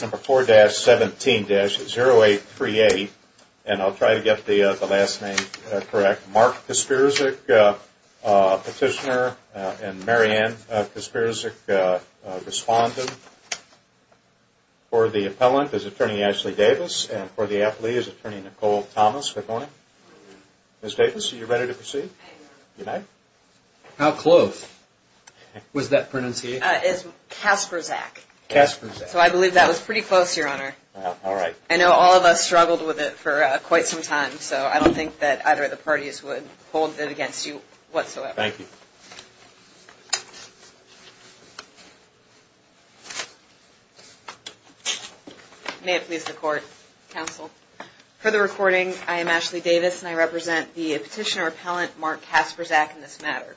Number 4-17-0838 and I'll try to get the last name correct. Mark Kasprzyk petitioner and Marianne Kasprzyk respondent. For the appellant is attorney Ashley Davis and for the athlete is attorney Nicole Thomas. Good morning. Ms. Davis are you ready to proceed? How close was that pronunciation? Kasprzyk. Kasprzyk. So I believe that was pretty close your honor. Alright. I know all of us struggled with it for quite some time so I don't think that either of the parties would hold it against you whatsoever. Thank you. May it please the court, counsel. For the recording I am Ashley Davis and I represent the petitioner appellant Mark Kasprzyk in this matter.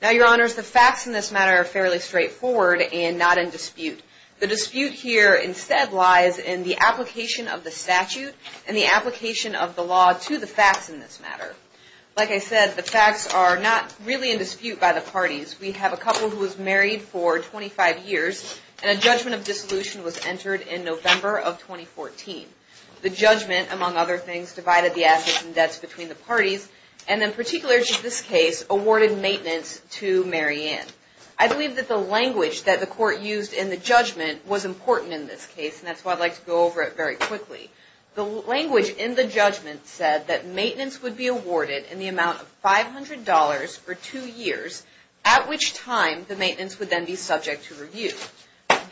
Now your honors the facts in this matter are fairly straightforward and not in dispute. The dispute here instead lies in the application of the statute and the application of the law to the facts in this matter. Like I said the facts are not really in dispute by the parties. We have a couple who was married for 25 years and a judgment of dissolution was entered in November of 2014. The judgment among other things divided the assets and debts between the parties and in particular in this case awarded maintenance to Mary Ann. I believe that the language that the court used in the judgment was important in this case and that's why I'd like to go over it very quickly. The language in the judgment said that maintenance would be awarded in the amount of $500 for two years at which time the maintenance would then be subject to review.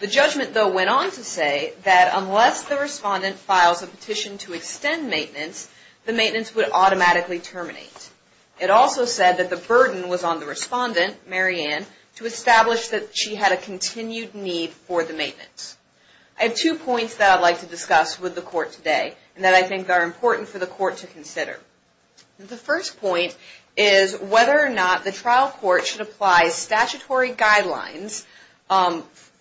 The judgment though went on to say that unless the respondent files a petition to extend maintenance, the maintenance would automatically terminate. It also said that the burden was on the respondent, Mary Ann, to establish that she had a continued need for the maintenance. I have two points that I'd like to discuss with the court today and that I think are important for the court to consider. The first point is whether or not the trial court should apply statutory guidelines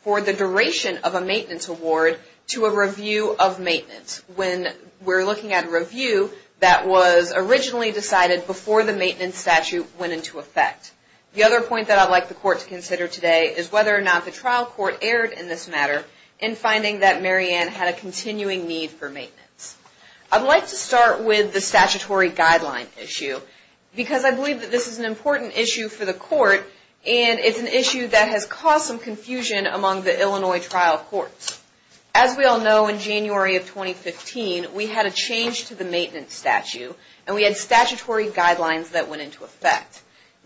for the duration of a maintenance award to a review of maintenance. When we're looking at a review that was originally decided before the maintenance statute went into effect. The other point that I'd like the court to consider today is whether or not the trial court erred in this matter in finding that Mary Ann had a continuing need for maintenance. I'd like to start with the statutory guideline issue because I believe that this is an important issue for the court and it's an issue that has caused some confusion among the Illinois trial courts. As we all know, in January of 2015, we had a change to the maintenance statute and we had statutory guidelines that went into effect.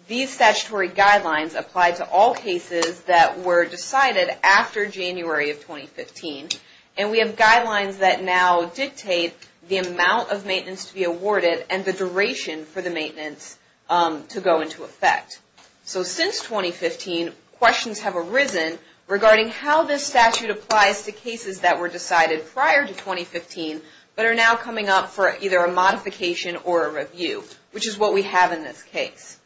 These statutory guidelines applied to all cases that were decided after January of 2015. We have guidelines that now dictate the amount of maintenance to be awarded and the duration for the maintenance to go into effect. Since 2015, questions have arisen regarding how this statute applies to cases that were decided prior to 2015 but are now coming up for either a modification or a review, which is what we have in this case.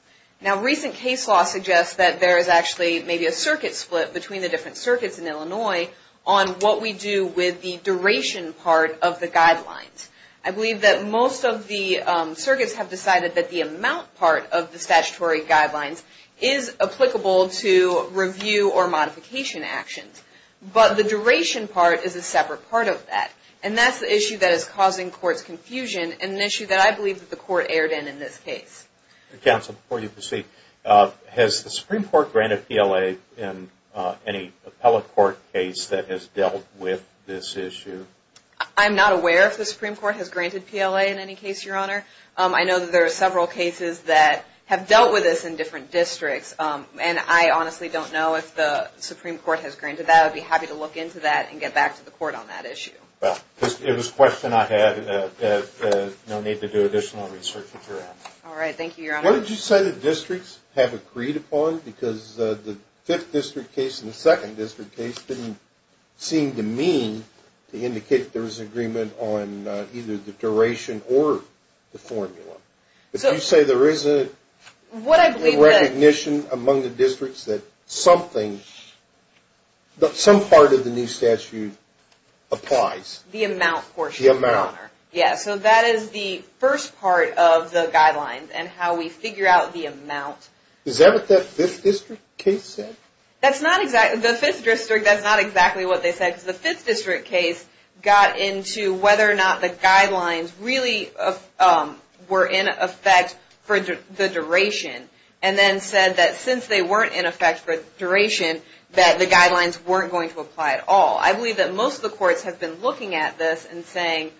Recent case law suggests that there is actually maybe a circuit split between the different circuits in Illinois on what we do with the duration part of the guidelines. I believe that most of the circuits have decided that the amount part of the statutory guidelines is applicable to review or modification actions, but the duration part is a separate part of that. And that's the issue that is causing court's confusion and an issue that I believe that the court erred in in this case. Counsel, before you proceed, has the Supreme Court granted PLA in any appellate court case that has dealt with this issue? I'm not aware if the Supreme Court has granted PLA in any case, Your Honor. I know that there are several cases that have dealt with this in different districts, and I honestly don't know if the Supreme Court has granted that. I'd be happy to look into that and get back to the court on that issue. Well, it was a question I had that no need to do additional research on. All right. Thank you, Your Honor. What did you say the districts have agreed upon? Because the 5th district case and the 2nd district case didn't seem to mean to indicate that there was agreement on either the duration or the formula. If you say there isn't recognition among the districts that something, some part of the new statute applies. The amount portion, Your Honor. Yes, so that is the first part of the guidelines and how we figure out the amount. Is that what that 5th district case said? That's not exactly, the 5th district, that's not exactly what they said. The 5th district case got into whether or not the guidelines really were in effect for the duration, and then said that since they weren't in effect for the duration, that the guidelines weren't going to apply at all. I believe that most of the courts have been looking at this and saying,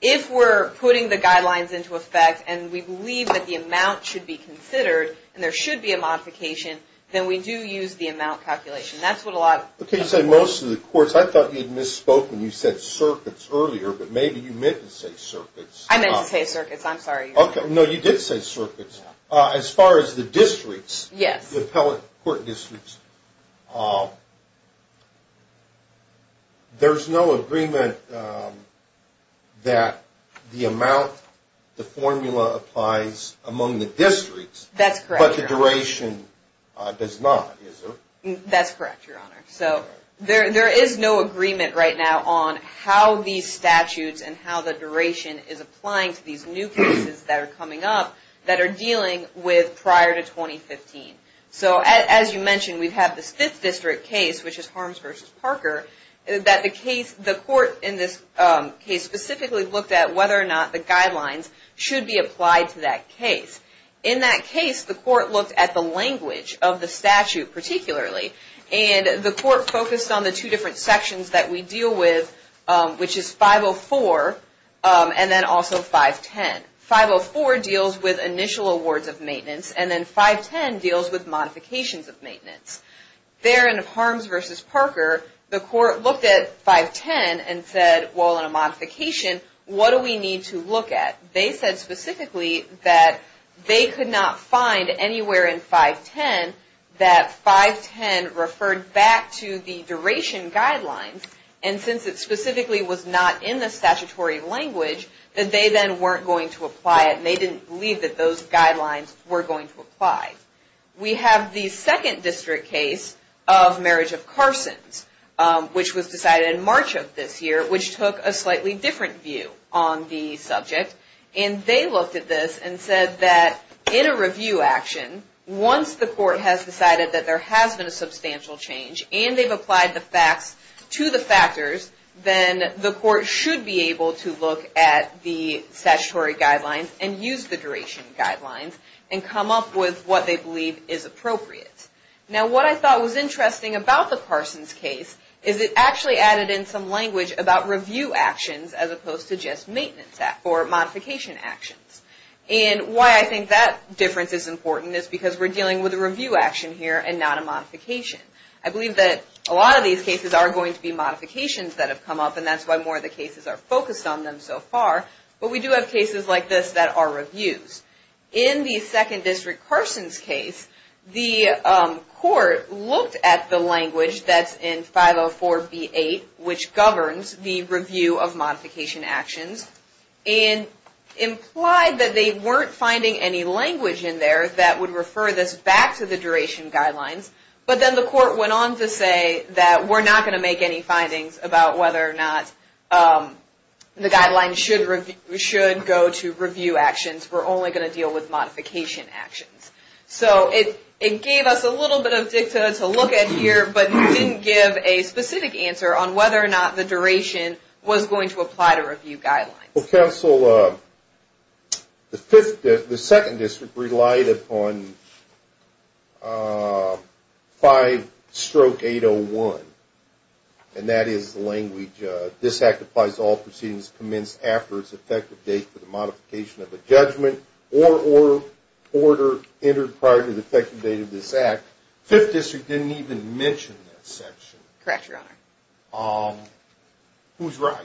if we're putting the guidelines into effect and we believe that the amount should be considered and there should be a modification, then we do use the amount calculation. That's what a lot of the courts say. Okay, you say most of the courts. I thought you had misspoken. You said circuits earlier, but maybe you meant to say circuits. I meant to say circuits. I'm sorry, Your Honor. No, you did say circuits. As far as the districts, the appellate court districts, there's no agreement that the amount, the formula applies among the districts, but the duration does not, is there? That's correct, Your Honor. So there is no agreement right now on how these statutes and how the duration is applying to these new cases that are coming up that are dealing with prior to 2015. So as you mentioned, we have this fifth district case, which is Harms v. Parker, that the court in this case specifically looked at whether or not the guidelines should be applied to that case. In that case, the court looked at the language of the statute particularly, and the court focused on the two different sections that we deal with, which is 504 and then also 510. 504 deals with initial awards of maintenance, and then 510 deals with modifications of maintenance. There in Harms v. Parker, the court looked at 510 and said, well, in a modification, what do we need to look at? They said specifically that they could not find anywhere in 510 that 510 referred back to the duration guidelines, and since it specifically was not in the statutory language, that they then weren't going to apply it, and they didn't believe that those guidelines were going to apply. We have the second district case of Marriage of Carsons, which was decided in March of this year, which took a slightly different view on the subject, and they looked at this and said that in a review action, once the court has decided that there has been a substantial change and they've applied the facts to the factors, then the court should be able to look at the statutory guidelines and use the duration guidelines and come up with what they believe is appropriate. Now, what I thought was interesting about the Carsons case is it actually added in some language about review actions as opposed to just maintenance or modification actions. And why I think that difference is important is because we're dealing with a review action here and not a modification. I believe that a lot of these cases are going to be modifications that have come up, and that's why more of the cases are focused on them so far, but we do have cases like this that are reviews. In the second district Carsons case, the court looked at the language that's in 504B8, which governs the review of modification actions, and implied that they weren't finding any language in there that would refer this back to the duration guidelines. But then the court went on to say that we're not going to make any findings about whether or not the guidelines should go to deal with modification actions. So it gave us a little bit of dicta to look at here, but didn't give a specific answer on whether or not the duration was going to apply to review guidelines. Well, counsel, the second district relied upon 5-801, and that is the language, this act applies to all proceedings commenced after its effective date for the modification of a judgment or order entered prior to the effective date of this act. Fifth district didn't even mention that section. Correct, Your Honor. Who's right?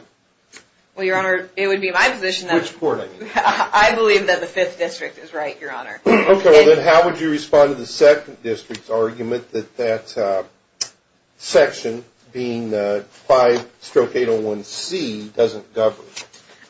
Well, Your Honor, it would be my position that... Which court, I mean? I believe that the fifth district is right, Your Honor. Okay, well then how would you respond to the second district's argument that that section being 5-801C doesn't govern?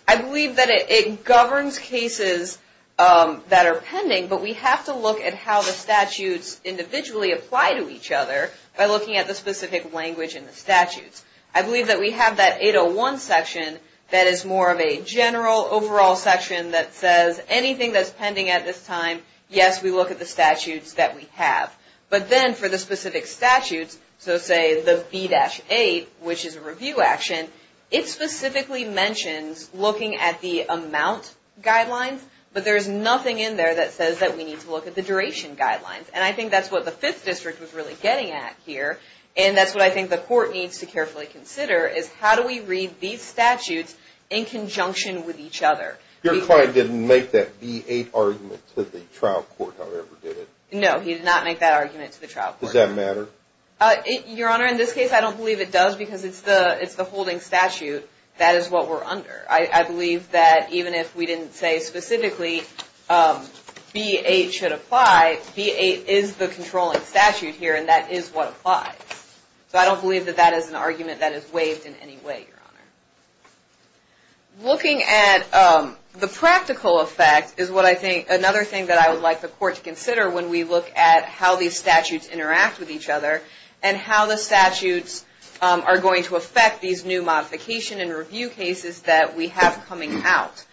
I believe that it governs cases that are pending, but we have to look at how the statutes individually apply to each other by looking at the specific language in the statutes. I believe that we have that 801 section that is more of a general overall section that says anything that's pending at this time, yes, we look at the statutes that we have, but then for the specific statutes, so say the B-8, which is a review action, it specifically mentions looking at the amount guidelines, but there's nothing in there that says that we need to look at the duration guidelines, and I think that's what the fifth district was really getting at here, and that's what I think the court needs to carefully consider is how do we read these statutes in conjunction with each other? Your client didn't make that B-8 argument to the trial court, however, did he? No, he did not make that argument to the trial court. Does that matter? Your Honor, in this case I don't believe it does because it's the holding statute that is what we're under. I believe that even if we didn't say specifically B-8 should apply, B-8 is the controlling statute here, and that is what applies, so I don't believe that that is an argument that is waived in any way, Your Honor. Looking at the practical effect is another thing that I would like the court to consider when we look at how these statutes interact with each other and how the statutes are going to affect these new modification and review cases that we have coming out.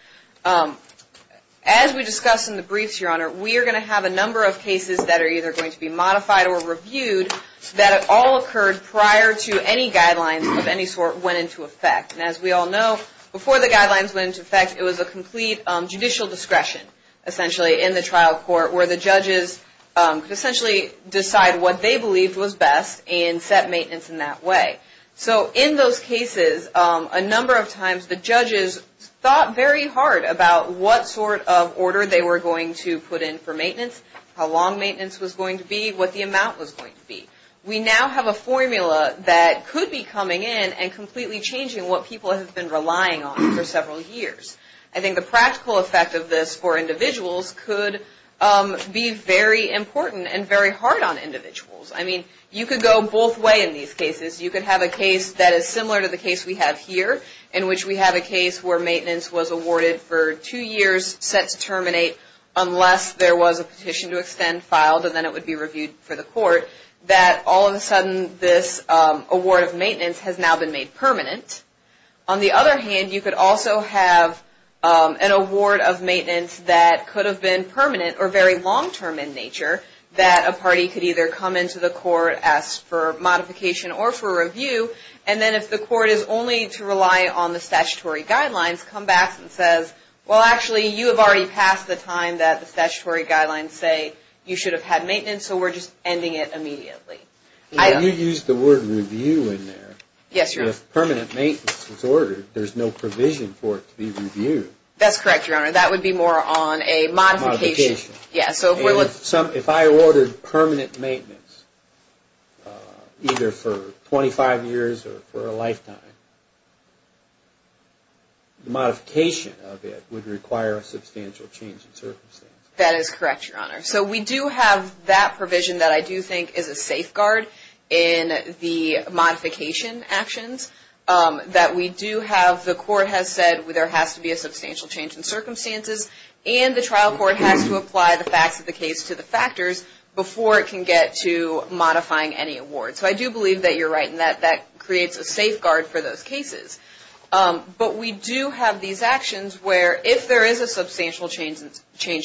As we discussed in the briefs, Your Honor, we are going to have a number of cases that are either going to be modified or reviewed that all occurred prior to any guidelines of any sort went into effect. As we all know, before the guidelines went into effect, it was a complete judicial discretion, essentially, in the trial court where the judges could essentially decide what they believed was best and set maintenance in that way. In those cases, a number of times the judges thought very hard about what sort of order they were going to put in for maintenance, how long maintenance was going to be, what the amount was going to be. We now have a formula that could be coming in and completely changing what people have been relying on for several years. I think the practical effect of this for individuals could be very important and very hard on individuals. I mean, you could go both ways in these cases. You could have a case that is similar to the case we have here, in which we have a case where maintenance was awarded for two years, set to terminate, unless there was a petition to extend filed and then it would be reviewed for the court, that all of a sudden this award of maintenance has now been made permanent. On the other hand, you could also have an award of maintenance that could have been permanent or very long-term in nature, that a party could either come into the court, ask for modification or for review, and then if the court is only to rely on the statutory guidelines, come back and say, well, actually, you have already passed the time that the statutory guidelines say you should have had maintenance, so we're just ending it immediately. You used the word review in there. Yes, Your Honor. If permanent maintenance was ordered, there's no provision for it to be reviewed. That's correct, Your Honor. That would be more on a modification. If I ordered permanent maintenance, either for 25 years or for a lifetime, the modification of it would require a substantial change in circumstances. That is correct, Your Honor. So we do have that provision that I do think is a safeguard in the modification actions. The court has said there has to be a substantial change in circumstances, and the trial court has to apply the facts of the case to the factors before it can get to modifying any award. So I do believe that you're right in that that creates a safeguard for those cases. But we do have these actions where if there is a substantial change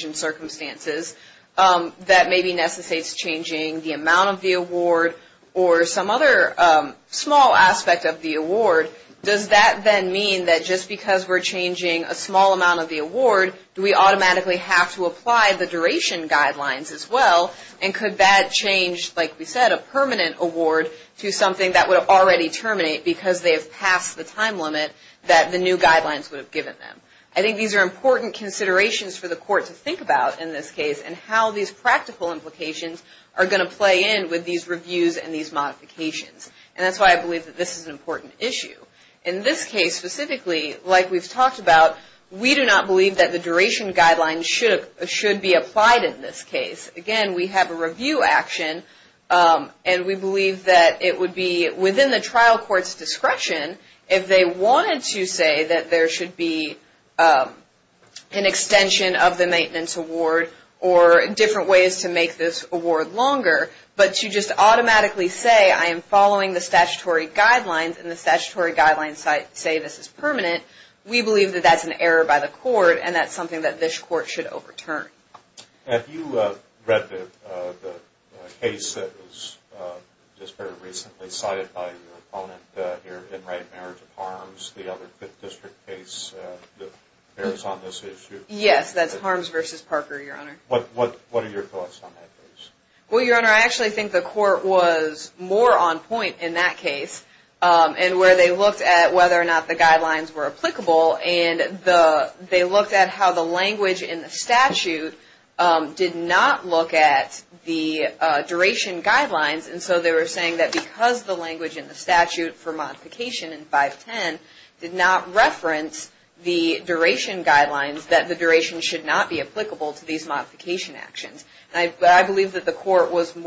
in circumstances that maybe necessitates changing the amount of the award or some other small aspect of the award, does that then mean that just because we're changing a small amount of the award, do we automatically have to apply the duration guidelines as well? And could that change, like we said, a permanent award to something that would already terminate because they have passed the time limit that the new guidelines would have given them? I think these are important considerations for the court to think about in this case and how these practical implications are going to play in with these reviews and these modifications. And that's why I believe that this is an important issue. In this case specifically, like we've talked about, we do not believe that the duration guidelines should be applied in this case. Again, we have a review action, and we believe that it would be within the trial court's discretion if they wanted to say that there should be an extension of the maintenance award or different ways to make this award longer, but to just automatically say, I am following the statutory guidelines, and the statutory guidelines say this is permanent, we believe that that's an error by the court, and that's something that this court should overturn. Have you read the case that was just very recently cited by your opponent here, In Right Marriage of Harms, the other district case that bears on this issue? Yes, that's Harms v. Parker, Your Honor. What are your thoughts on that case? Well, Your Honor, I actually think the court was more on point in that case, and where they looked at whether or not the guidelines were applicable, and they looked at how the language in the statute did not look at the duration guidelines, and so they were saying that because the language in the statute for modification in 510 did not reference the duration guidelines, that the duration should not be applicable to these modification actions. I believe that the court was in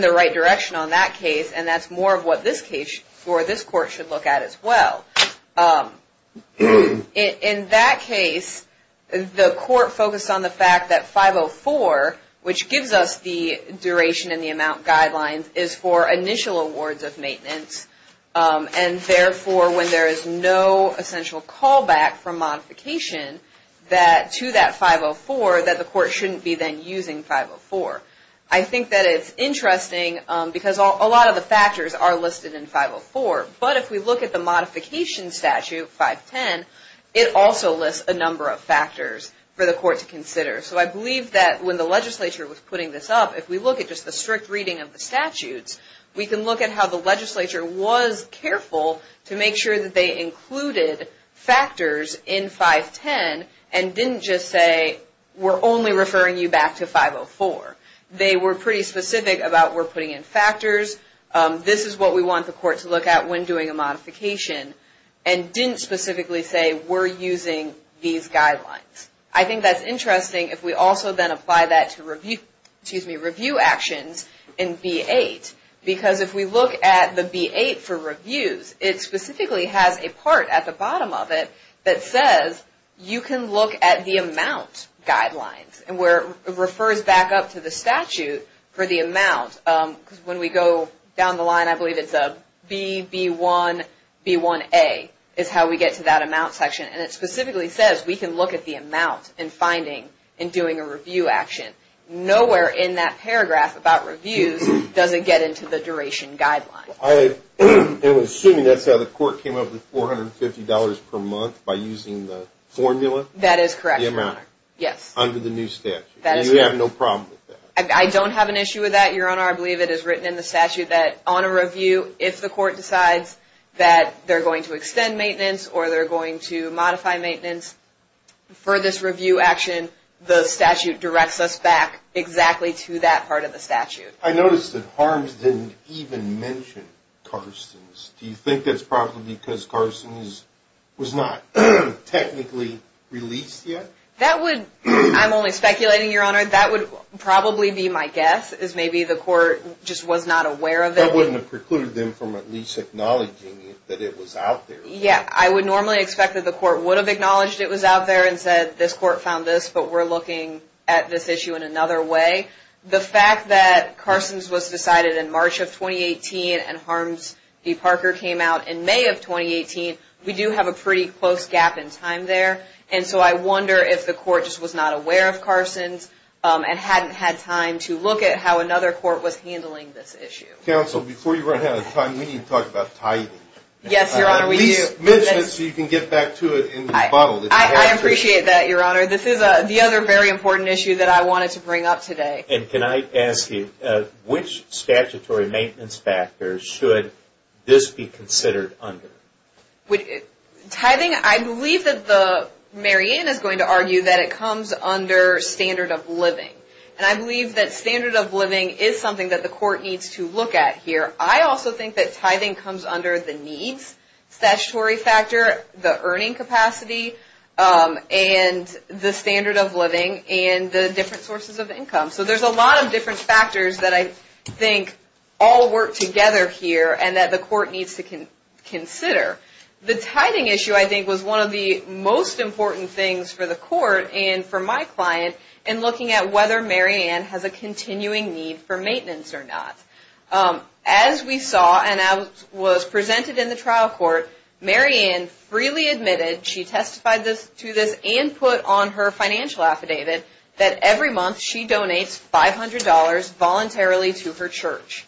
the right direction on that case, and that's more of what this court should look at as well. In that case, the court focused on the fact that 504, which gives us the duration and the amount guidelines, is for initial awards of maintenance, and therefore when there is no essential callback from modification to that 504, that the court shouldn't be then using 504. I think that it's interesting because a lot of the factors are listed in 504, but if we look at the modification statute, 510, it also lists a number of factors for the court to consider. So I believe that when the legislature was putting this up, if we look at just the strict reading of the statutes, we can look at how the legislature was careful to make sure that they included factors in 510 and didn't just say we're only referring you back to 504. They were pretty specific about we're putting in factors, this is what we want the court to look at when doing a modification, and didn't specifically say we're using these guidelines. I think that's interesting if we also then apply that to review actions in B-8, because if we look at the B-8 for reviews, it specifically has a part at the bottom of it that says you can look at the amount guidelines, and where it refers back up to the statute for the amount, because when we go down the line I believe it's a B-B-1-B-1-A is how we get to that amount section, and it specifically says we can look at the amount in finding and doing a review action. Nowhere in that paragraph about reviews does it get into the duration guidelines. I'm assuming that's how the court came up with $450 per month by using the formula? That is correct, Your Honor. Under the new statute, and you have no problem with that? I don't have an issue with that, Your Honor. I believe it is written in the statute that on a review, if the court decides that they're going to extend maintenance or they're going to modify maintenance, for this review action the statute directs us back exactly to that part of the statute. I noticed that Harms didn't even mention Carstens. Do you think that's probably because Carstens was not technically released yet? I'm only speculating, Your Honor. That would probably be my guess, is maybe the court just was not aware of it. That wouldn't have precluded them from at least acknowledging that it was out there. Yeah, I would normally expect that the court would have acknowledged it was out there and said this court found this, but we're looking at this issue in another way. The fact that Carstens was decided in March of 2018 and Harms v. Parker came out in May of 2018, we do have a pretty close gap in time there, and so I wonder if the court just was not aware of Carstens and hadn't had time to look at how another court was handling this issue. Counsel, before you run out of time, we need to talk about tithing. Yes, Your Honor, we do. At least mention it so you can get back to it in rebuttal. I appreciate that, Your Honor. This is the other very important issue that I wanted to bring up today. And can I ask you, which statutory maintenance factors should this be considered under? Tithing, I believe that Marianne is going to argue that it comes under standard of living, and I believe that standard of living is something that the court needs to look at here. I also think that tithing comes under the needs statutory factor, the earning capacity, and the standard of living, and the different sources of income. So there's a lot of different factors that I think all work together here and that the court needs to consider. The tithing issue, I think, was one of the most important things for the court and for my client in looking at whether Marianne has a continuing need for maintenance or not. As we saw, and as was presented in the trial court, Marianne freely admitted she testified to this and put on her financial affidavit that every month she donates $500 voluntarily to her church.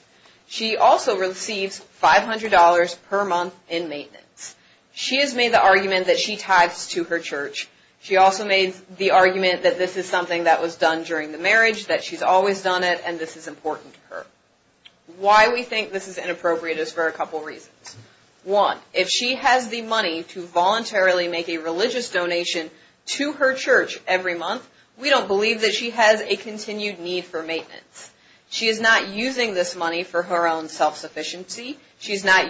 She also receives $500 per month in maintenance. She has made the argument that she tithes to her church. She also made the argument that this is something that was done during the marriage, that she's always done it, and this is important to her. Why we think this is inappropriate is for a couple reasons. One, if she has the money to voluntarily make a religious donation to her church every month, we don't believe that she has a continued need for maintenance. She is not using this money for her own self-sufficiency. She's not,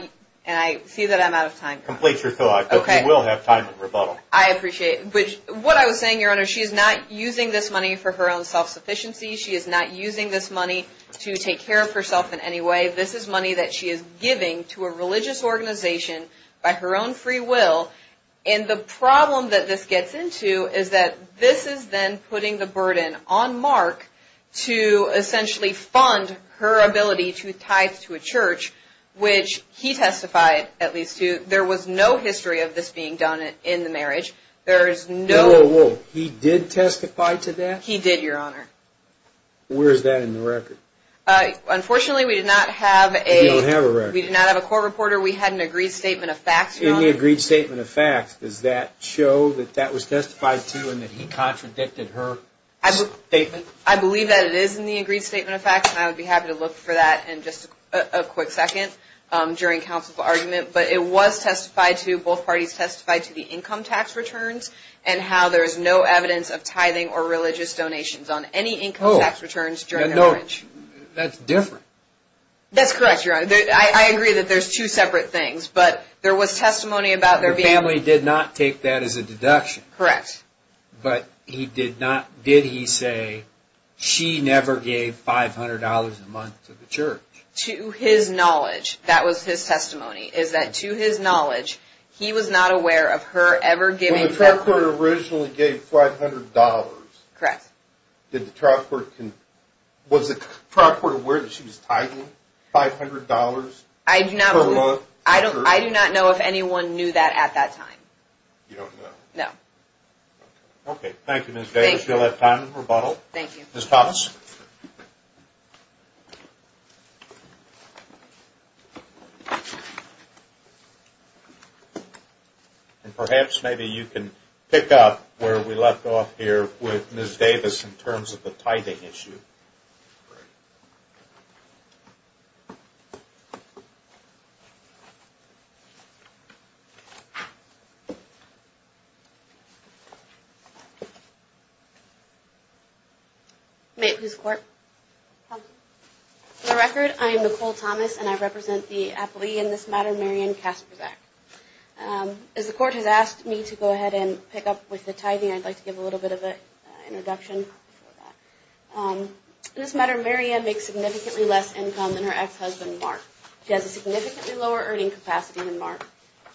and I see that I'm out of time. Complete your thought. Okay. We will have time for rebuttal. I appreciate it. What I was saying, Your Honor, she is not using this money for her own self-sufficiency. She is not using this money to take care of herself in any way. This is money that she is giving to a religious organization by her own free will, and the problem that this gets into is that this is then putting the burden on Mark to essentially fund her ability to tithe to a church, which he testified at least to. There was no history of this being done in the marriage. Whoa, whoa, whoa. He did testify to that? He did, Your Honor. Where is that in the record? Unfortunately, we did not have a court reporter. We had an agreed statement of facts, Your Honor. In the agreed statement of facts, does that show that that was testified to and that he contradicted her statement? I believe that it is in the agreed statement of facts, and I would be happy to look for that in just a quick second during counsel's argument. But it was testified to, both parties testified to, the income tax returns and how there is no evidence of tithing or religious donations on any income tax returns during their marriage. That's different. That's correct, Your Honor. I agree that there's two separate things, but there was testimony about their being… Her family did not take that as a deduction. Correct. But did he say she never gave $500 a month to the church? To his knowledge, that was his testimony, is that to his knowledge, he was not aware of her ever giving… When the trial court originally gave $500… Correct. Was the trial court aware that she was tithing $500 per month? I do not know if anyone knew that at that time. You don't know? No. Okay. Thank you, Ms. Davis. You'll have time for rebuttal. Thank you. Ms. Thomas. And perhaps maybe you can pick up where we left off here with Ms. Davis in terms of the tithing issue. Great. May I please report? Go ahead. For the record, I am Nicole Thomas, and I represent the appellee in this matter, Marion Kasperzak. As the court has asked me to go ahead and pick up with the tithing, I'd like to give a little bit of an introduction for that. In this matter, Marion makes significantly less income than her ex-husband, Mark. She has a significantly lower earning capacity than Mark,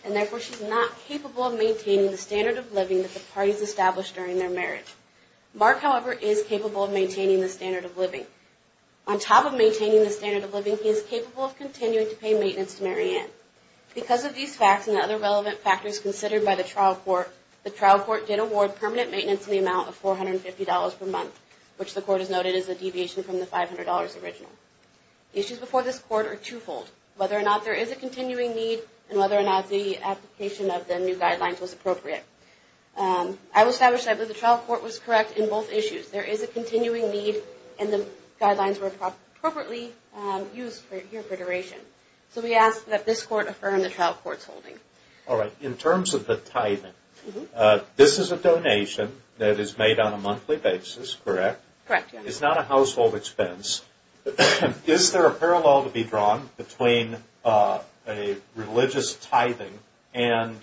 and therefore she's not capable of maintaining the standard of living that the parties established during their marriage. Mark, however, is capable of maintaining the standard of living. On top of maintaining the standard of living, he is capable of continuing to pay maintenance to Marion. Because of these facts and other relevant factors considered by the trial court, the trial court did award permanent maintenance in the amount of $450 per month, which the court has noted is a deviation from the $500 original. The issues before this court are twofold, whether or not there is a continuing need and whether or not the application of the new guidelines was appropriate. I will establish that the trial court was correct in both issues. There is a continuing need and the guidelines were appropriately used here for duration. So we ask that this court affirm the trial court's holding. All right. In terms of the tithing, this is a donation that is made on a monthly basis, correct? Correct. It's not a household expense. Is there a parallel to be drawn between a religious tithing and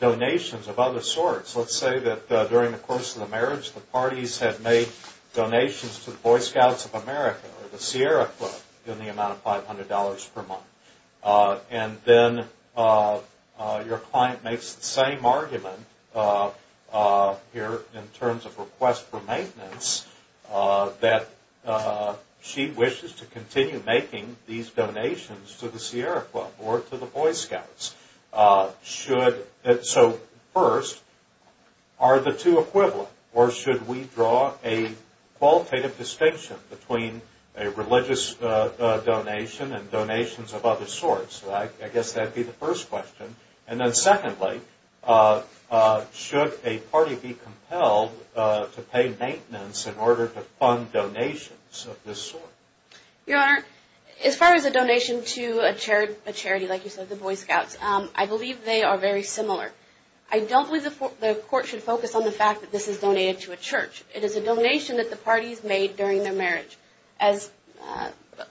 donations of other sorts? Let's say that during the course of the marriage, the parties have made donations to the Boy Scouts of America or the Sierra Club in the amount of $500 per month. And then your client makes the same argument here in terms of request for maintenance that she wishes to continue making these donations to the Sierra Club or to the Boy Scouts. So first, are the two equivalent? Or should we draw a qualitative distinction between a religious donation and donations of other sorts? I guess that would be the first question. And then secondly, should a party be compelled to pay maintenance in order to fund donations of this sort? Your Honor, as far as a donation to a charity like you said, the Boy Scouts, I believe they are very similar. I don't believe the court should focus on the fact that this is donated to a church. It is a donation that the parties made during their marriage. As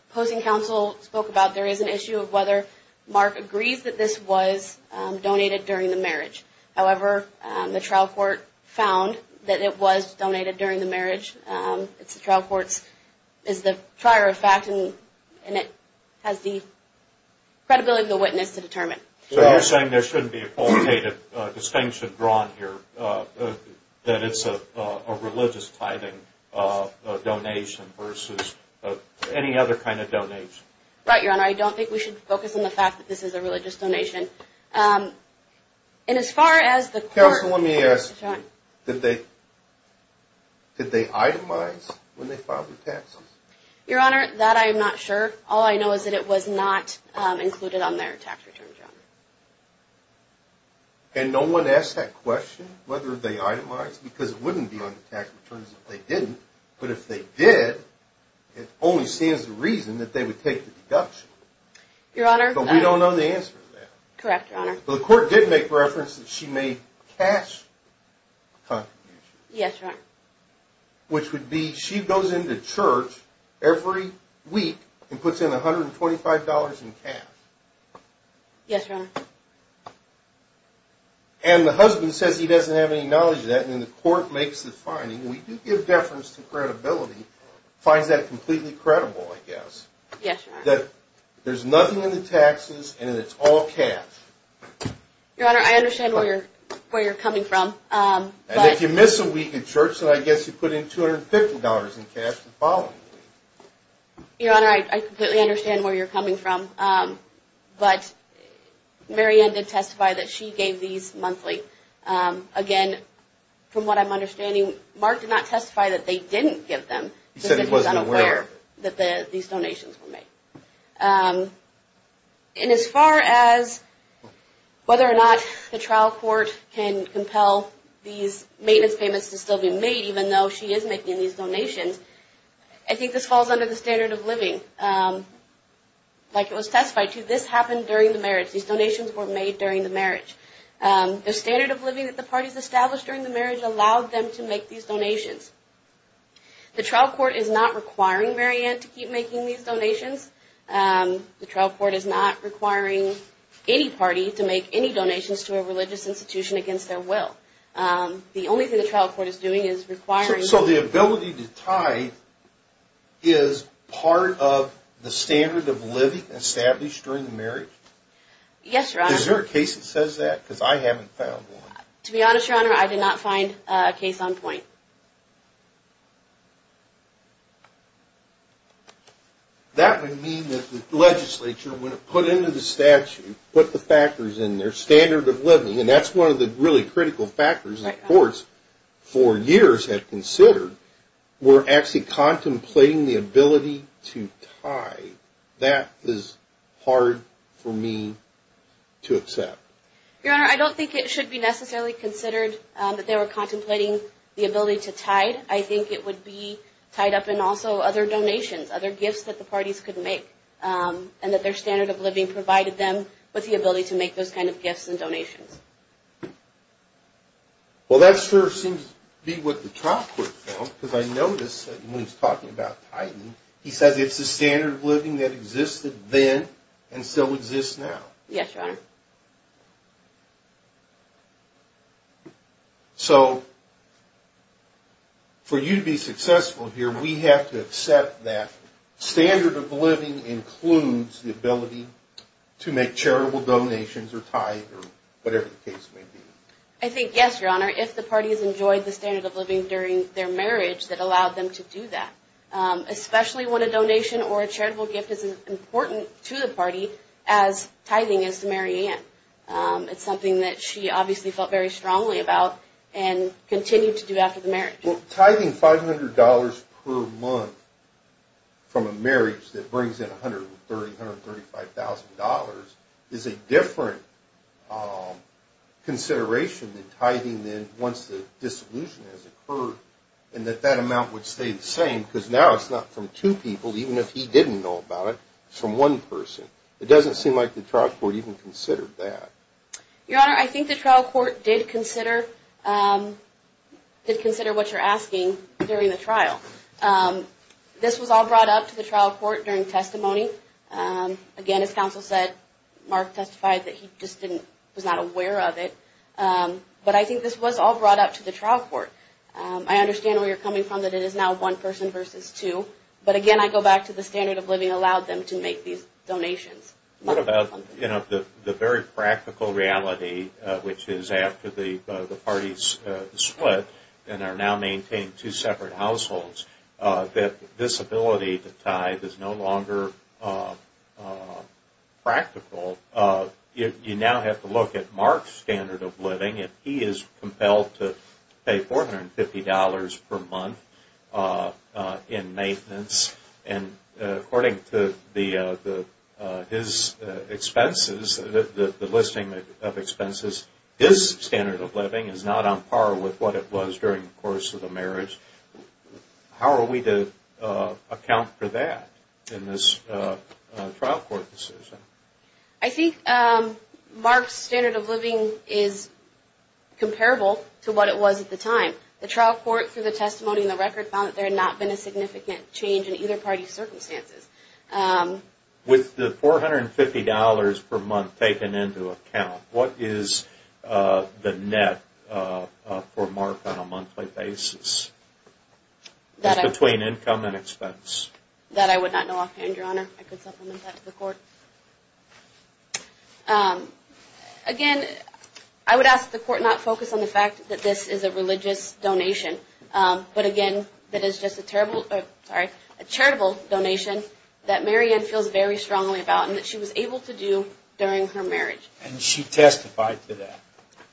opposing counsel spoke about, there is an issue of whether Mark agrees that this was donated during the marriage. However, the trial court found that it was donated during the marriage. The trial court is the prior of fact, and it has the credibility of the witness to determine. So you're saying there shouldn't be a qualitative distinction drawn here, that it's a religious tithing donation versus any other kind of donation? Right, Your Honor. I don't think we should focus on the fact that this is a religious donation. Counsel, let me ask you, did they itemize when they filed their taxes? Your Honor, that I am not sure. All I know is that it was not included on their tax returns, Your Honor. And no one asked that question, whether they itemized, because it wouldn't be on the tax returns if they didn't. But if they did, it only stands to reason that they would take the deduction. But we don't know the answer to that. Correct, Your Honor. The court did make reference that she made cash contributions. Yes, Your Honor. Which would be, she goes into church every week and puts in $125 in cash. Yes, Your Honor. And the husband says he doesn't have any knowledge of that, and the court makes the finding. We do give deference to credibility, finds that completely credible, I guess. Yes, Your Honor. That there's nothing in the taxes, and it's all cash. Your Honor, I understand where you're coming from. And if you miss a week in church, then I guess you put in $250 in cash the following week. Your Honor, I completely understand where you're coming from. But Mary Ann did testify that she gave these monthly. Again, from what I'm understanding, Mark did not testify that they didn't give them. He said he wasn't aware of it. That these donations were made. And as far as whether or not the trial court can compel these maintenance payments to still be made, even though she is making these donations, I think this falls under the standard of living. Like it was testified to, this happened during the marriage. These donations were made during the marriage. The standard of living that the parties established during the marriage allowed them to make these donations. The trial court is not requiring Mary Ann to keep making these donations. The trial court is not requiring any party to make any donations to a religious institution against their will. The only thing the trial court is doing is requiring... So the ability to tithe is part of the standard of living established during the marriage? Yes, Your Honor. Is there a case that says that? Because I haven't found one. To be honest, Your Honor, I did not find a case on point. That would mean that the legislature, when it put into the statute, put the factors in there, standard of living, and that's one of the really critical factors that courts for years have considered, were actually contemplating the ability to tithe. That is hard for me to accept. Your Honor, I don't think it should be necessarily considered that they were contemplating the ability to tithe. I think it would be tied up in also other donations, other gifts that the parties could make, and that their standard of living provided them with the ability to make those kind of gifts and donations. Well, that sure seems to be what the trial court found, because I noticed when he was talking about tithing, he said it's a standard of living that existed then and still exists now. Yes, Your Honor. So, for you to be successful here, we have to accept that standard of living includes the ability to make charitable donations or tithe or whatever the case may be. I think, yes, Your Honor, if the parties enjoyed the standard of living during their marriage that allowed them to do that, especially when a donation or a charitable gift is as important to the party as tithing is to Mary Ann. It's something that she obviously felt very strongly about and continued to do after the marriage. Well, tithing $500 per month from a marriage that brings in $130,000, $135,000 is a different consideration than tithing once the dissolution has occurred and that that amount would stay the same, because now it's not from two people, even if he didn't know about it, it's from one person. It doesn't seem like the trial court even considered that. Your Honor, I think the trial court did consider what you're asking during the trial. This was all brought up to the trial court during testimony. Again, as counsel said, Mark testified that he just was not aware of it. But I think this was all brought up to the trial court. I understand where you're coming from, that it is now one person versus two. But again, I go back to the standard of living allowed them to make these donations. What about the very practical reality, which is after the parties split and are now maintaining two separate households, that this ability to tithe is no longer practical? You now have to look at Mark's standard of living. If he is compelled to pay $450 per month in maintenance, and according to his expenses, the listing of expenses, his standard of living is not on par with what it was during the course of the marriage. How are we to account for that in this trial court decision? I think Mark's standard of living is comparable to what it was at the time. The trial court, through the testimony and the record, found that there had not been a significant change in either party's circumstances. With the $450 per month taken into account, what is the net for Mark on a monthly basis between income and expense? That I would not know offhand, Your Honor. I could supplement that to the court. Again, I would ask that the court not focus on the fact that this is a religious donation, but again, that it is just a charitable donation that Mary Ann feels very strongly about, and that she was able to do during her marriage. And she testified to that.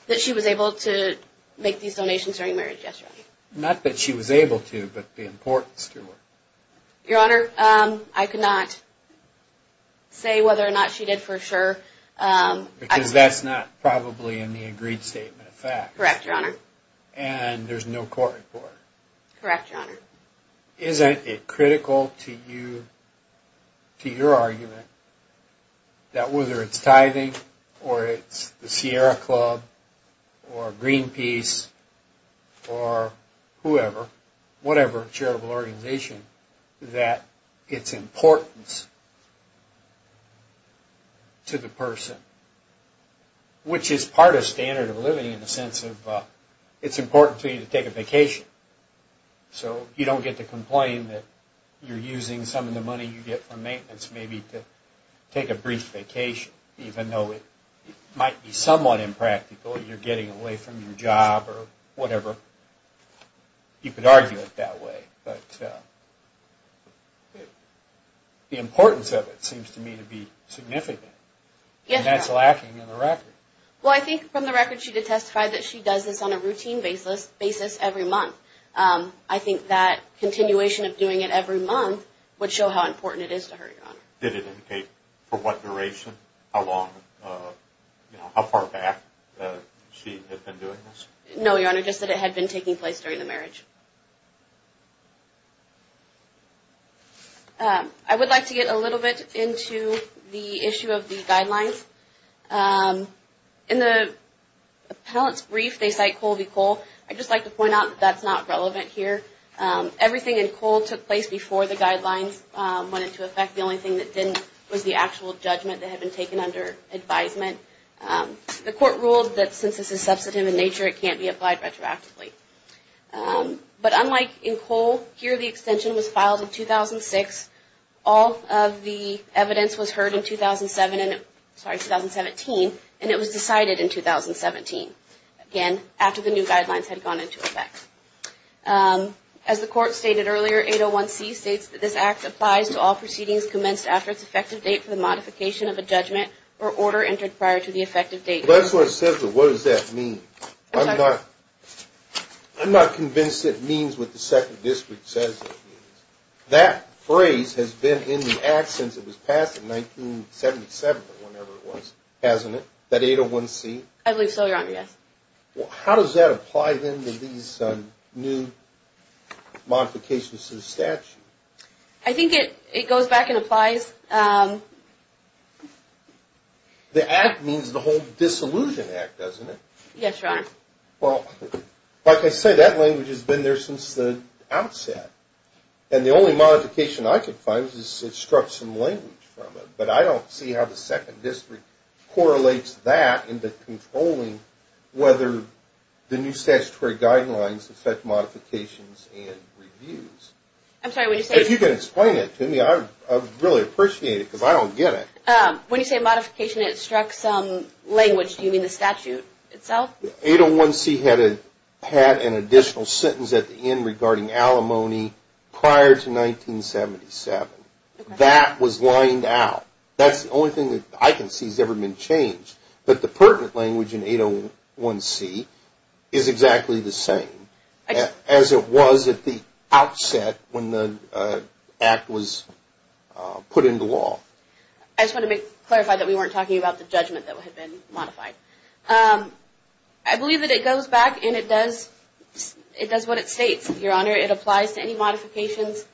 That she was able to make these donations during marriage, yes, Your Honor. Not that she was able to, but the importance to her. Your Honor, I could not say whether or not she did for sure. Because that's not probably in the agreed statement of facts. Correct, Your Honor. And there's no court report. Correct, Your Honor. Isn't it critical to you, to your argument, that whether it's tithing, or it's the Sierra Club, or Greenpeace, or whoever, whatever charitable organization, that it's importance to the person, which is part of standard of living in the sense of it's important to you to take a vacation, so you don't get to complain that you're using some of the money you get from maintenance maybe to take a brief vacation, even though it might be somewhat impractical, you're getting away from your job or whatever. You could argue it that way. But the importance of it seems to me to be significant. Yes, Your Honor. And that's lacking in the record. Well, I think from the record she did testify that she does this on a routine basis every month. I think that continuation of doing it every month would show how important it is to her, Your Honor. Did it indicate for what duration, how far back she had been doing this? No, Your Honor, just that it had been taking place during the marriage. I would like to get a little bit into the issue of the guidelines. In the appellant's brief, they cite Colby-Cole. I'd just like to point out that that's not relevant here. Everything in Cole took place before the guidelines went into effect. The only thing that didn't was the actual judgment that had been taken under advisement. The court ruled that since this is substantive in nature, it can't be applied retroactively. But unlike in Cole, here the extension was filed in 2006. All of the evidence was heard in 2017, and it was decided in 2017, again, after the new guidelines had gone into effect. As the court stated earlier, 801C states that this act applies to all proceedings commenced after its effective date for the modification of a judgment or order entered prior to the effective date. That's what it says, but what does that mean? I'm not convinced it means what the Second District says it means. That phrase has been in the act since it was passed in 1977 or whenever it was, hasn't it, that 801C? I believe so, Your Honor, yes. How does that apply then to these new modifications to the statute? I think it goes back and applies. The act means the whole disillusion act, doesn't it? Yes, Your Honor. Well, like I say, that language has been there since the outset. And the only modification I could find is it struck some language from it. But I don't see how the Second District correlates that into controlling whether the new statutory guidelines affect modifications and reviews. I'm sorry, what did you say? If you can explain it to me, I would really appreciate it because I don't get it. When you say modification, it struck some language. Do you mean the statute itself? 801C had an additional sentence at the end regarding alimony prior to 1977. That was lined out. That's the only thing that I can see has ever been changed. But the pertinent language in 801C is exactly the same as it was at the outset when the act was put into law. I just want to clarify that we weren't talking about the judgment that had been modified. I believe that it goes back and it does what it states, Your Honor. It applies to any modifications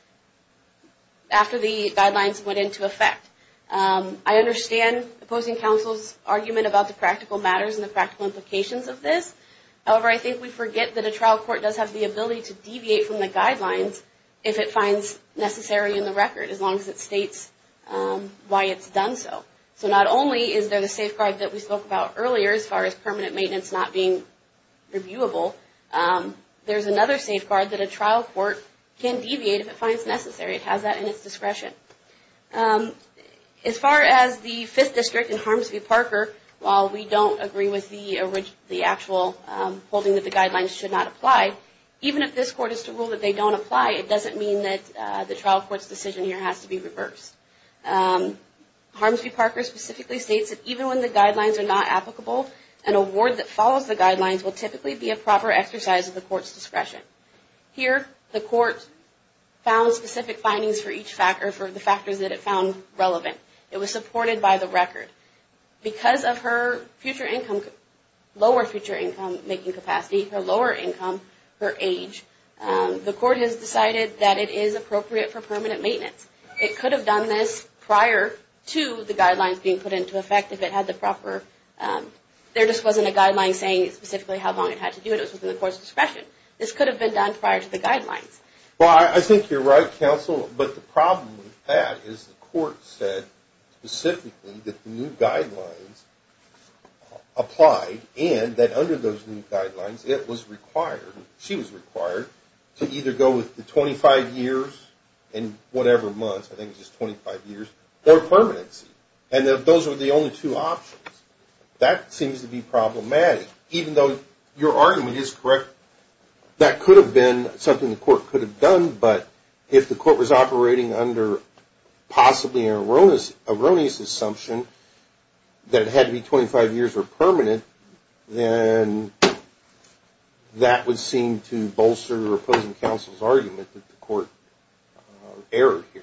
after the guidelines went into effect. I understand opposing counsel's argument about the practical matters and the practical implications of this. However, I think we forget that a trial court does have the ability to deviate from the guidelines if it finds necessary in the record as long as it states why it's done so. So not only is there the safeguard that we spoke about earlier as far as permanent maintenance not being reviewable, there's another safeguard that a trial court can deviate if it finds necessary. It has that in its discretion. As far as the Fifth District and Harms v. Parker, while we don't agree with the actual holding that the guidelines should not apply, even if this court is to rule that they don't apply, it doesn't mean that the trial court's decision here has to be reversed. Harms v. Parker specifically states that even when the guidelines are not applicable, an award that follows the guidelines will typically be a proper exercise of the court's discretion. Here, the court found specific findings for the factors that it found relevant. It was supported by the record. Because of her lower future income making capacity, her lower income, her age, the court has decided that it is appropriate for permanent maintenance. It could have done this prior to the guidelines being put into effect. There just wasn't a guideline saying specifically how long it had to do it. It was within the court's discretion. This could have been done prior to the guidelines. Well, I think you're right, counsel. But the problem with that is the court said specifically that the new guidelines applied and that under those new guidelines it was required, she was required, to either go with the 25 years and whatever months, I think it was just 25 years, or permanency. And those were the only two options. That seems to be problematic, even though your argument is correct. That could have been something the court could have done, but if the court was operating under possibly an erroneous assumption that it had to be 25 years or permanent, then that would seem to bolster opposing counsel's argument that the court erred here.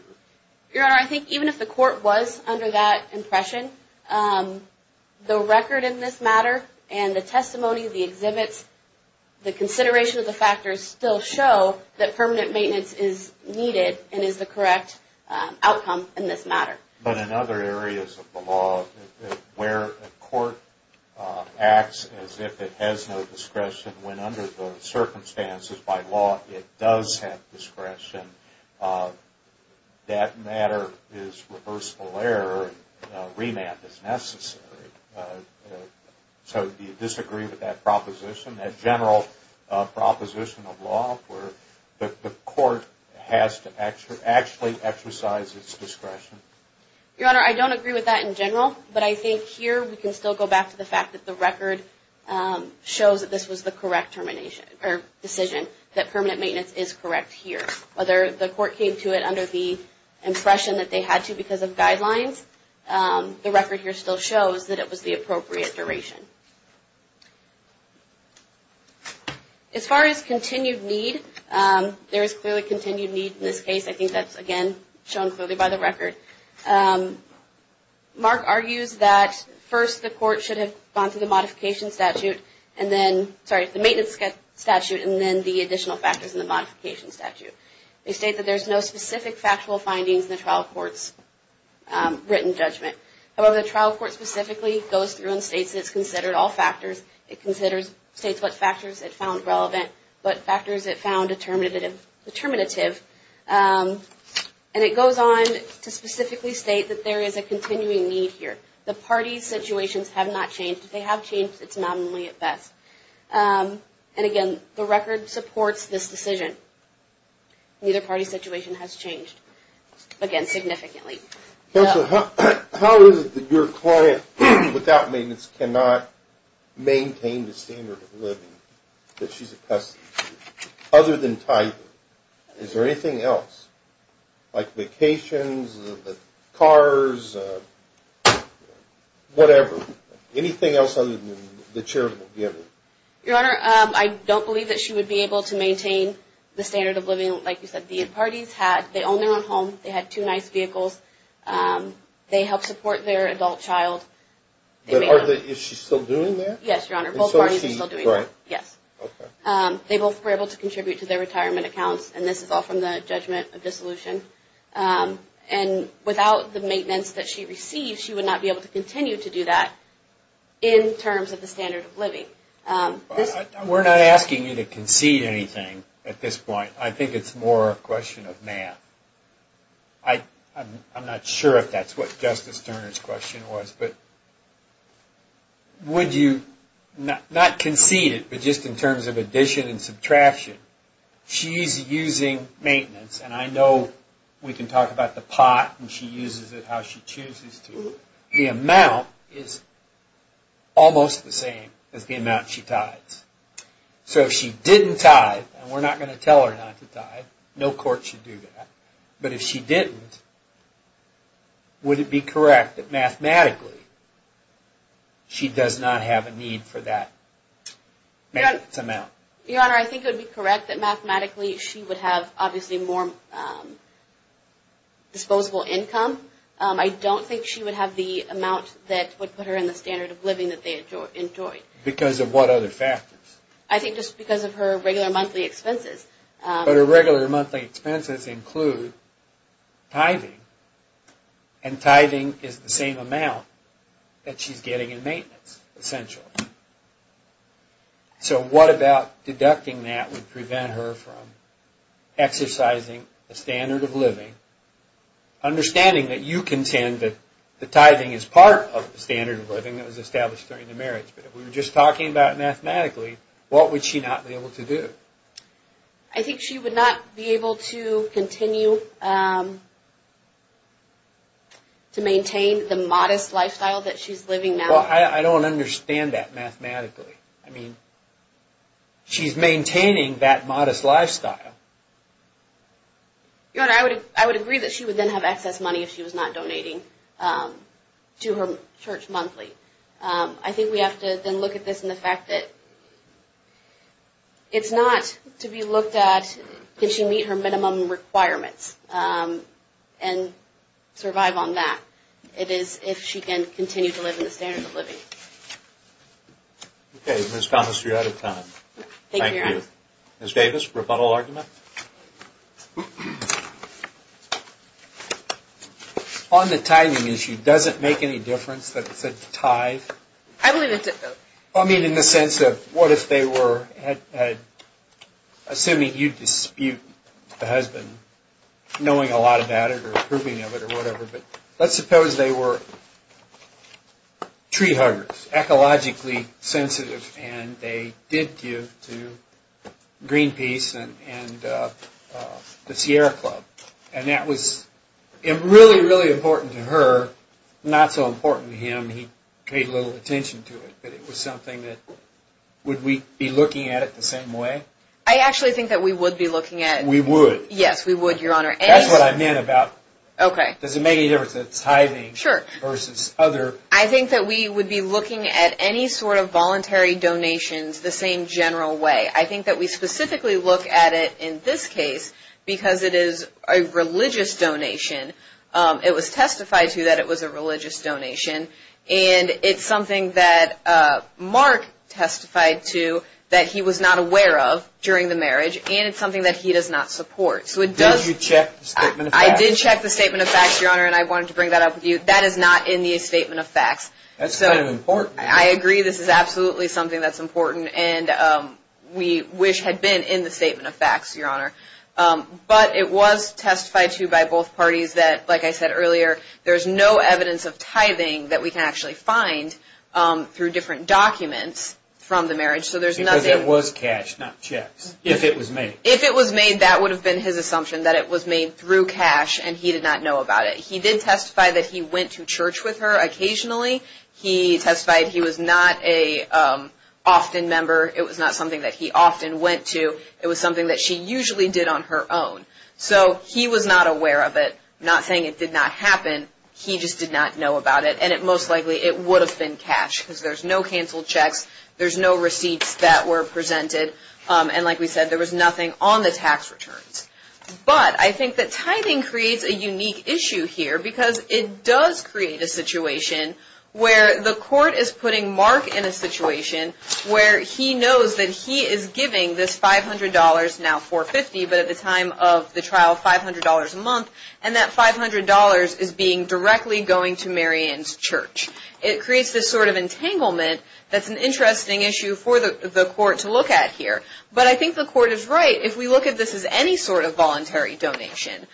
Your Honor, I think even if the court was under that impression, the record in this matter and the testimony, the exhibits, the consideration of the factors still show that permanent maintenance is needed and is the correct outcome in this matter. But in other areas of the law where a court acts as if it has no discretion when under the circumstances by law it does have discretion, that matter is reversible error and remand is necessary. So do you disagree with that proposition, that general proposition of law where the court has to actually exercise its discretion? Your Honor, I don't agree with that in general, but I think here we can still go back to the fact that the record shows that this was the correct decision, that permanent maintenance is correct here. Whether the court came to it under the impression that they had to because of guidelines, the record here still shows that it was the appropriate duration. As far as continued need, there is clearly continued need in this case. I think that's, again, shown clearly by the record. Mark argues that first the court should have gone through the modification statute and then the maintenance statute and then the additional factors in the modification statute. They state that there's no specific factual findings in the trial court's written judgment. However, the trial court specifically goes through and states it's considered all factors. It states what factors it found relevant, what factors it found determinative. And it goes on to specifically state that there is a continuing need here. The parties' situations have not changed. If they have changed, it's not only at best. And, again, the record supports this decision. Neither party's situation has changed, again, significantly. Counselor, how is it that your client, without maintenance, cannot maintain the standard of living, that she's a custody? Other than title, is there anything else, like vacations, cars, whatever? Anything else other than the charitable giving? Your Honor, I don't believe that she would be able to maintain the standard of living, like you said. The parties had their own home. They had two nice vehicles. They helped support their adult child. Is she still doing that? Yes, Your Honor. Both parties are still doing that. Okay. They both were able to contribute to their retirement accounts, and this is all from the judgment of dissolution. And without the maintenance that she received, she would not be able to continue to do that, in terms of the standard of living. We're not asking you to concede anything at this point. I think it's more a question of math. I'm not sure if that's what Justice Turner's question was, but would you not concede it, but just in terms of addition and subtraction? Your Honor, she's using maintenance, and I know we can talk about the pot, and she uses it how she chooses to. The amount is almost the same as the amount she tithes. So if she didn't tithe, and we're not going to tell her not to tithe. No court should do that. But if she didn't, would it be correct that mathematically she does not have a need for that maintenance amount? Your Honor, I think it would be correct that mathematically she would have, obviously, more disposable income. I don't think she would have the amount that would put her in the standard of living that they enjoyed. Because of what other factors? I think just because of her regular monthly expenses. But her regular monthly expenses include tithing, and tithing is the same amount that she's getting in maintenance, essentially. So what about deducting that would prevent her from exercising the standard of living? Understanding that you contend that the tithing is part of the standard of living that was established during the marriage, but if we were just talking about mathematically, what would she not be able to do? I think she would not be able to continue to maintain the modest lifestyle that she's living now. Well, I don't understand that mathematically. I mean, she's maintaining that modest lifestyle. Your Honor, I would agree that she would then have excess money if she was not donating to her church monthly. I think we have to then look at this and the fact that it's not to be looked at, can she meet her minimum requirements and survive on that? It is if she can continue to live in the standard of living. Okay, Ms. Thomas, you're out of time. Thank you. Ms. Davis, rebuttal argument? On the tithing issue, does it make any difference that it's a tithe? I believe it does. I mean, in the sense of what if they were, assuming you dispute the husband, knowing a lot about it or approving of it or whatever, but let's suppose they were tree huggers, ecologically sensitive, and they did give to Greenpeace and the Sierra Club, and that was really, really important to her, not so important to him. He paid little attention to it, but it was something that, would we be looking at it the same way? I actually think that we would be looking at it. We would? Yes, we would, Your Honor. That's what I meant about does it make any difference that it's tithing versus other. I think that we would be looking at any sort of voluntary donations the same general way. I think that we specifically look at it in this case because it is a religious donation. It was testified to that it was a religious donation, and it's something that Mark testified to that he was not aware of during the marriage, and it's something that he does not support. Did you check the statement of facts? I did check the statement of facts, Your Honor, and I wanted to bring that up with you. That is not in the statement of facts. That's kind of important. I agree. This is absolutely something that's important, and we wish had been in the statement of facts, Your Honor, but it was testified to by both parties that, like I said earlier, there's no evidence of tithing that we can actually find through different documents from the marriage, because it was cash, not checks, if it was made. If it was made, that would have been his assumption, that it was made through cash, and he did not know about it. He did testify that he went to church with her occasionally. He testified he was not an often member. It was not something that he often went to. It was something that she usually did on her own. So he was not aware of it, not saying it did not happen. He just did not know about it, and most likely it would have been cash because there's no canceled checks, there's no receipts that were presented, and like we said, there was nothing on the tax returns. But I think that tithing creates a unique issue here because it does create a situation where the court is putting Mark in a situation where he knows that he is giving this $500, now $450, but at the time of the trial, $500 a month, and that $500 is being directly going to Marian's church. It creates this sort of entanglement that's an interesting issue for the court to look at here. But I think the court is right. If we look at this as any sort of voluntary donation,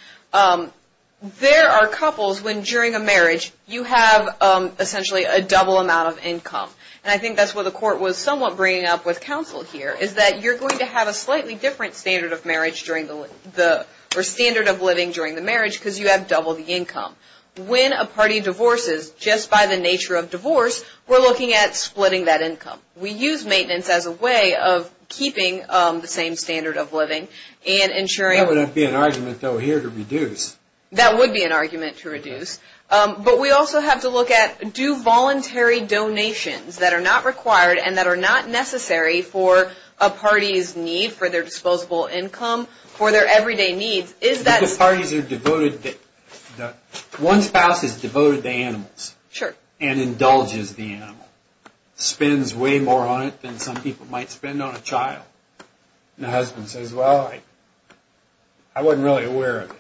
there are couples when during a marriage, you have essentially a double amount of income, and I think that's what the court was somewhat bringing up with counsel here, is that you're going to have a slightly different standard of living during the marriage because you have double the income. When a party divorces, just by the nature of divorce, we're looking at splitting that income. We use maintenance as a way of keeping the same standard of living and ensuring. That would be an argument, though, here to reduce. That would be an argument to reduce. But we also have to look at do voluntary donations that are not required and that are not necessary for a party's need for their disposable income, for their everyday needs. One spouse is devoted to animals and indulges the animal. Spends way more on it than some people might spend on a child. And the husband says, well, I wasn't really aware of it.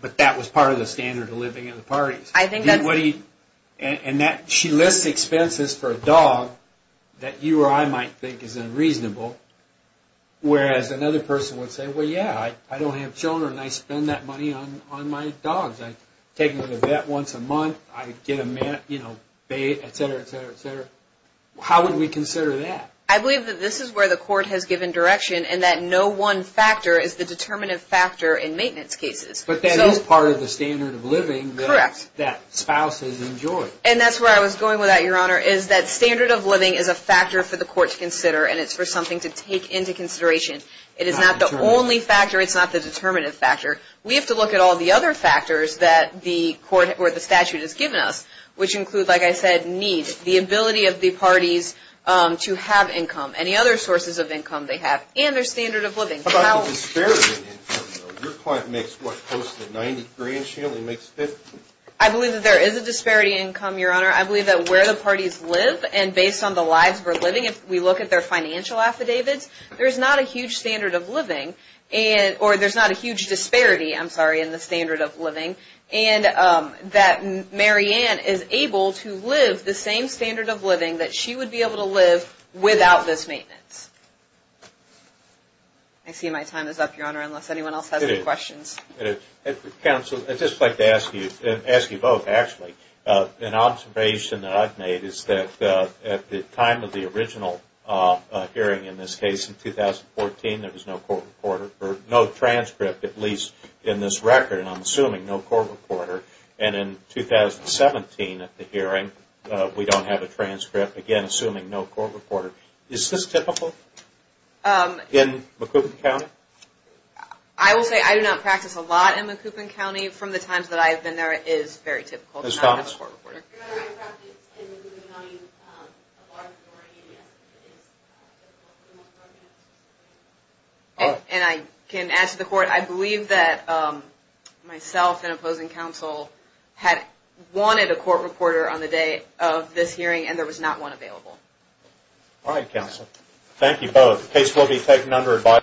But that was part of the standard of living in the parties. And she lists expenses for a dog that you or I might think is unreasonable, whereas another person would say, well, yeah, I don't have children. I spend that money on my dogs. I take them to the vet once a month. I get them, you know, bait, et cetera, et cetera, et cetera. How would we consider that? I believe that this is where the court has given direction and that no one factor is the determinative factor in maintenance cases. But that is part of the standard of living. Correct. That spouses enjoy. And that's where I was going with that, Your Honor, is that standard of living is a factor for the court to consider and it's for something to take into consideration. It is not the only factor. It's not the determinative factor. We have to look at all the other factors that the statute has given us, which include, like I said, needs, the ability of the parties to have income, any other sources of income they have, and their standard of living. How about the disparity in income? Your client makes, what, close to 90 grand? She only makes 50. I believe that there is a disparity in income, Your Honor. I believe that where the parties live and based on the lives we're living, if we look at their financial affidavits, there's not a huge standard of living or there's not a huge disparity, I'm sorry, in the standard of living, and that Mary Ann is able to live the same standard of living that she would be able to live without this maintenance. I see my time is up, Your Honor, unless anyone else has any questions. Counsel, I'd just like to ask you both, actually. An observation that I've made is that at the time of the original hearing, in this case, in 2014, there was no transcript, at least in this record, and I'm assuming no court reporter, and in 2017 at the hearing, we don't have a transcript, again, assuming no court reporter. Is this typical in Macoupin County? I will say I do not practice a lot in Macoupin County. From the times that I've been there, it is very typical to not have a court reporter. Ms. Thomas? Your Honor, I practice in Macoupin County a lot of authority, and yes, it is typical for the most part, yes. And I can add to the court, I believe that myself and opposing counsel had wanted a court reporter on the day of this hearing, and there was not one available. All right, counsel. Thank you both. The case will be taken under advisory.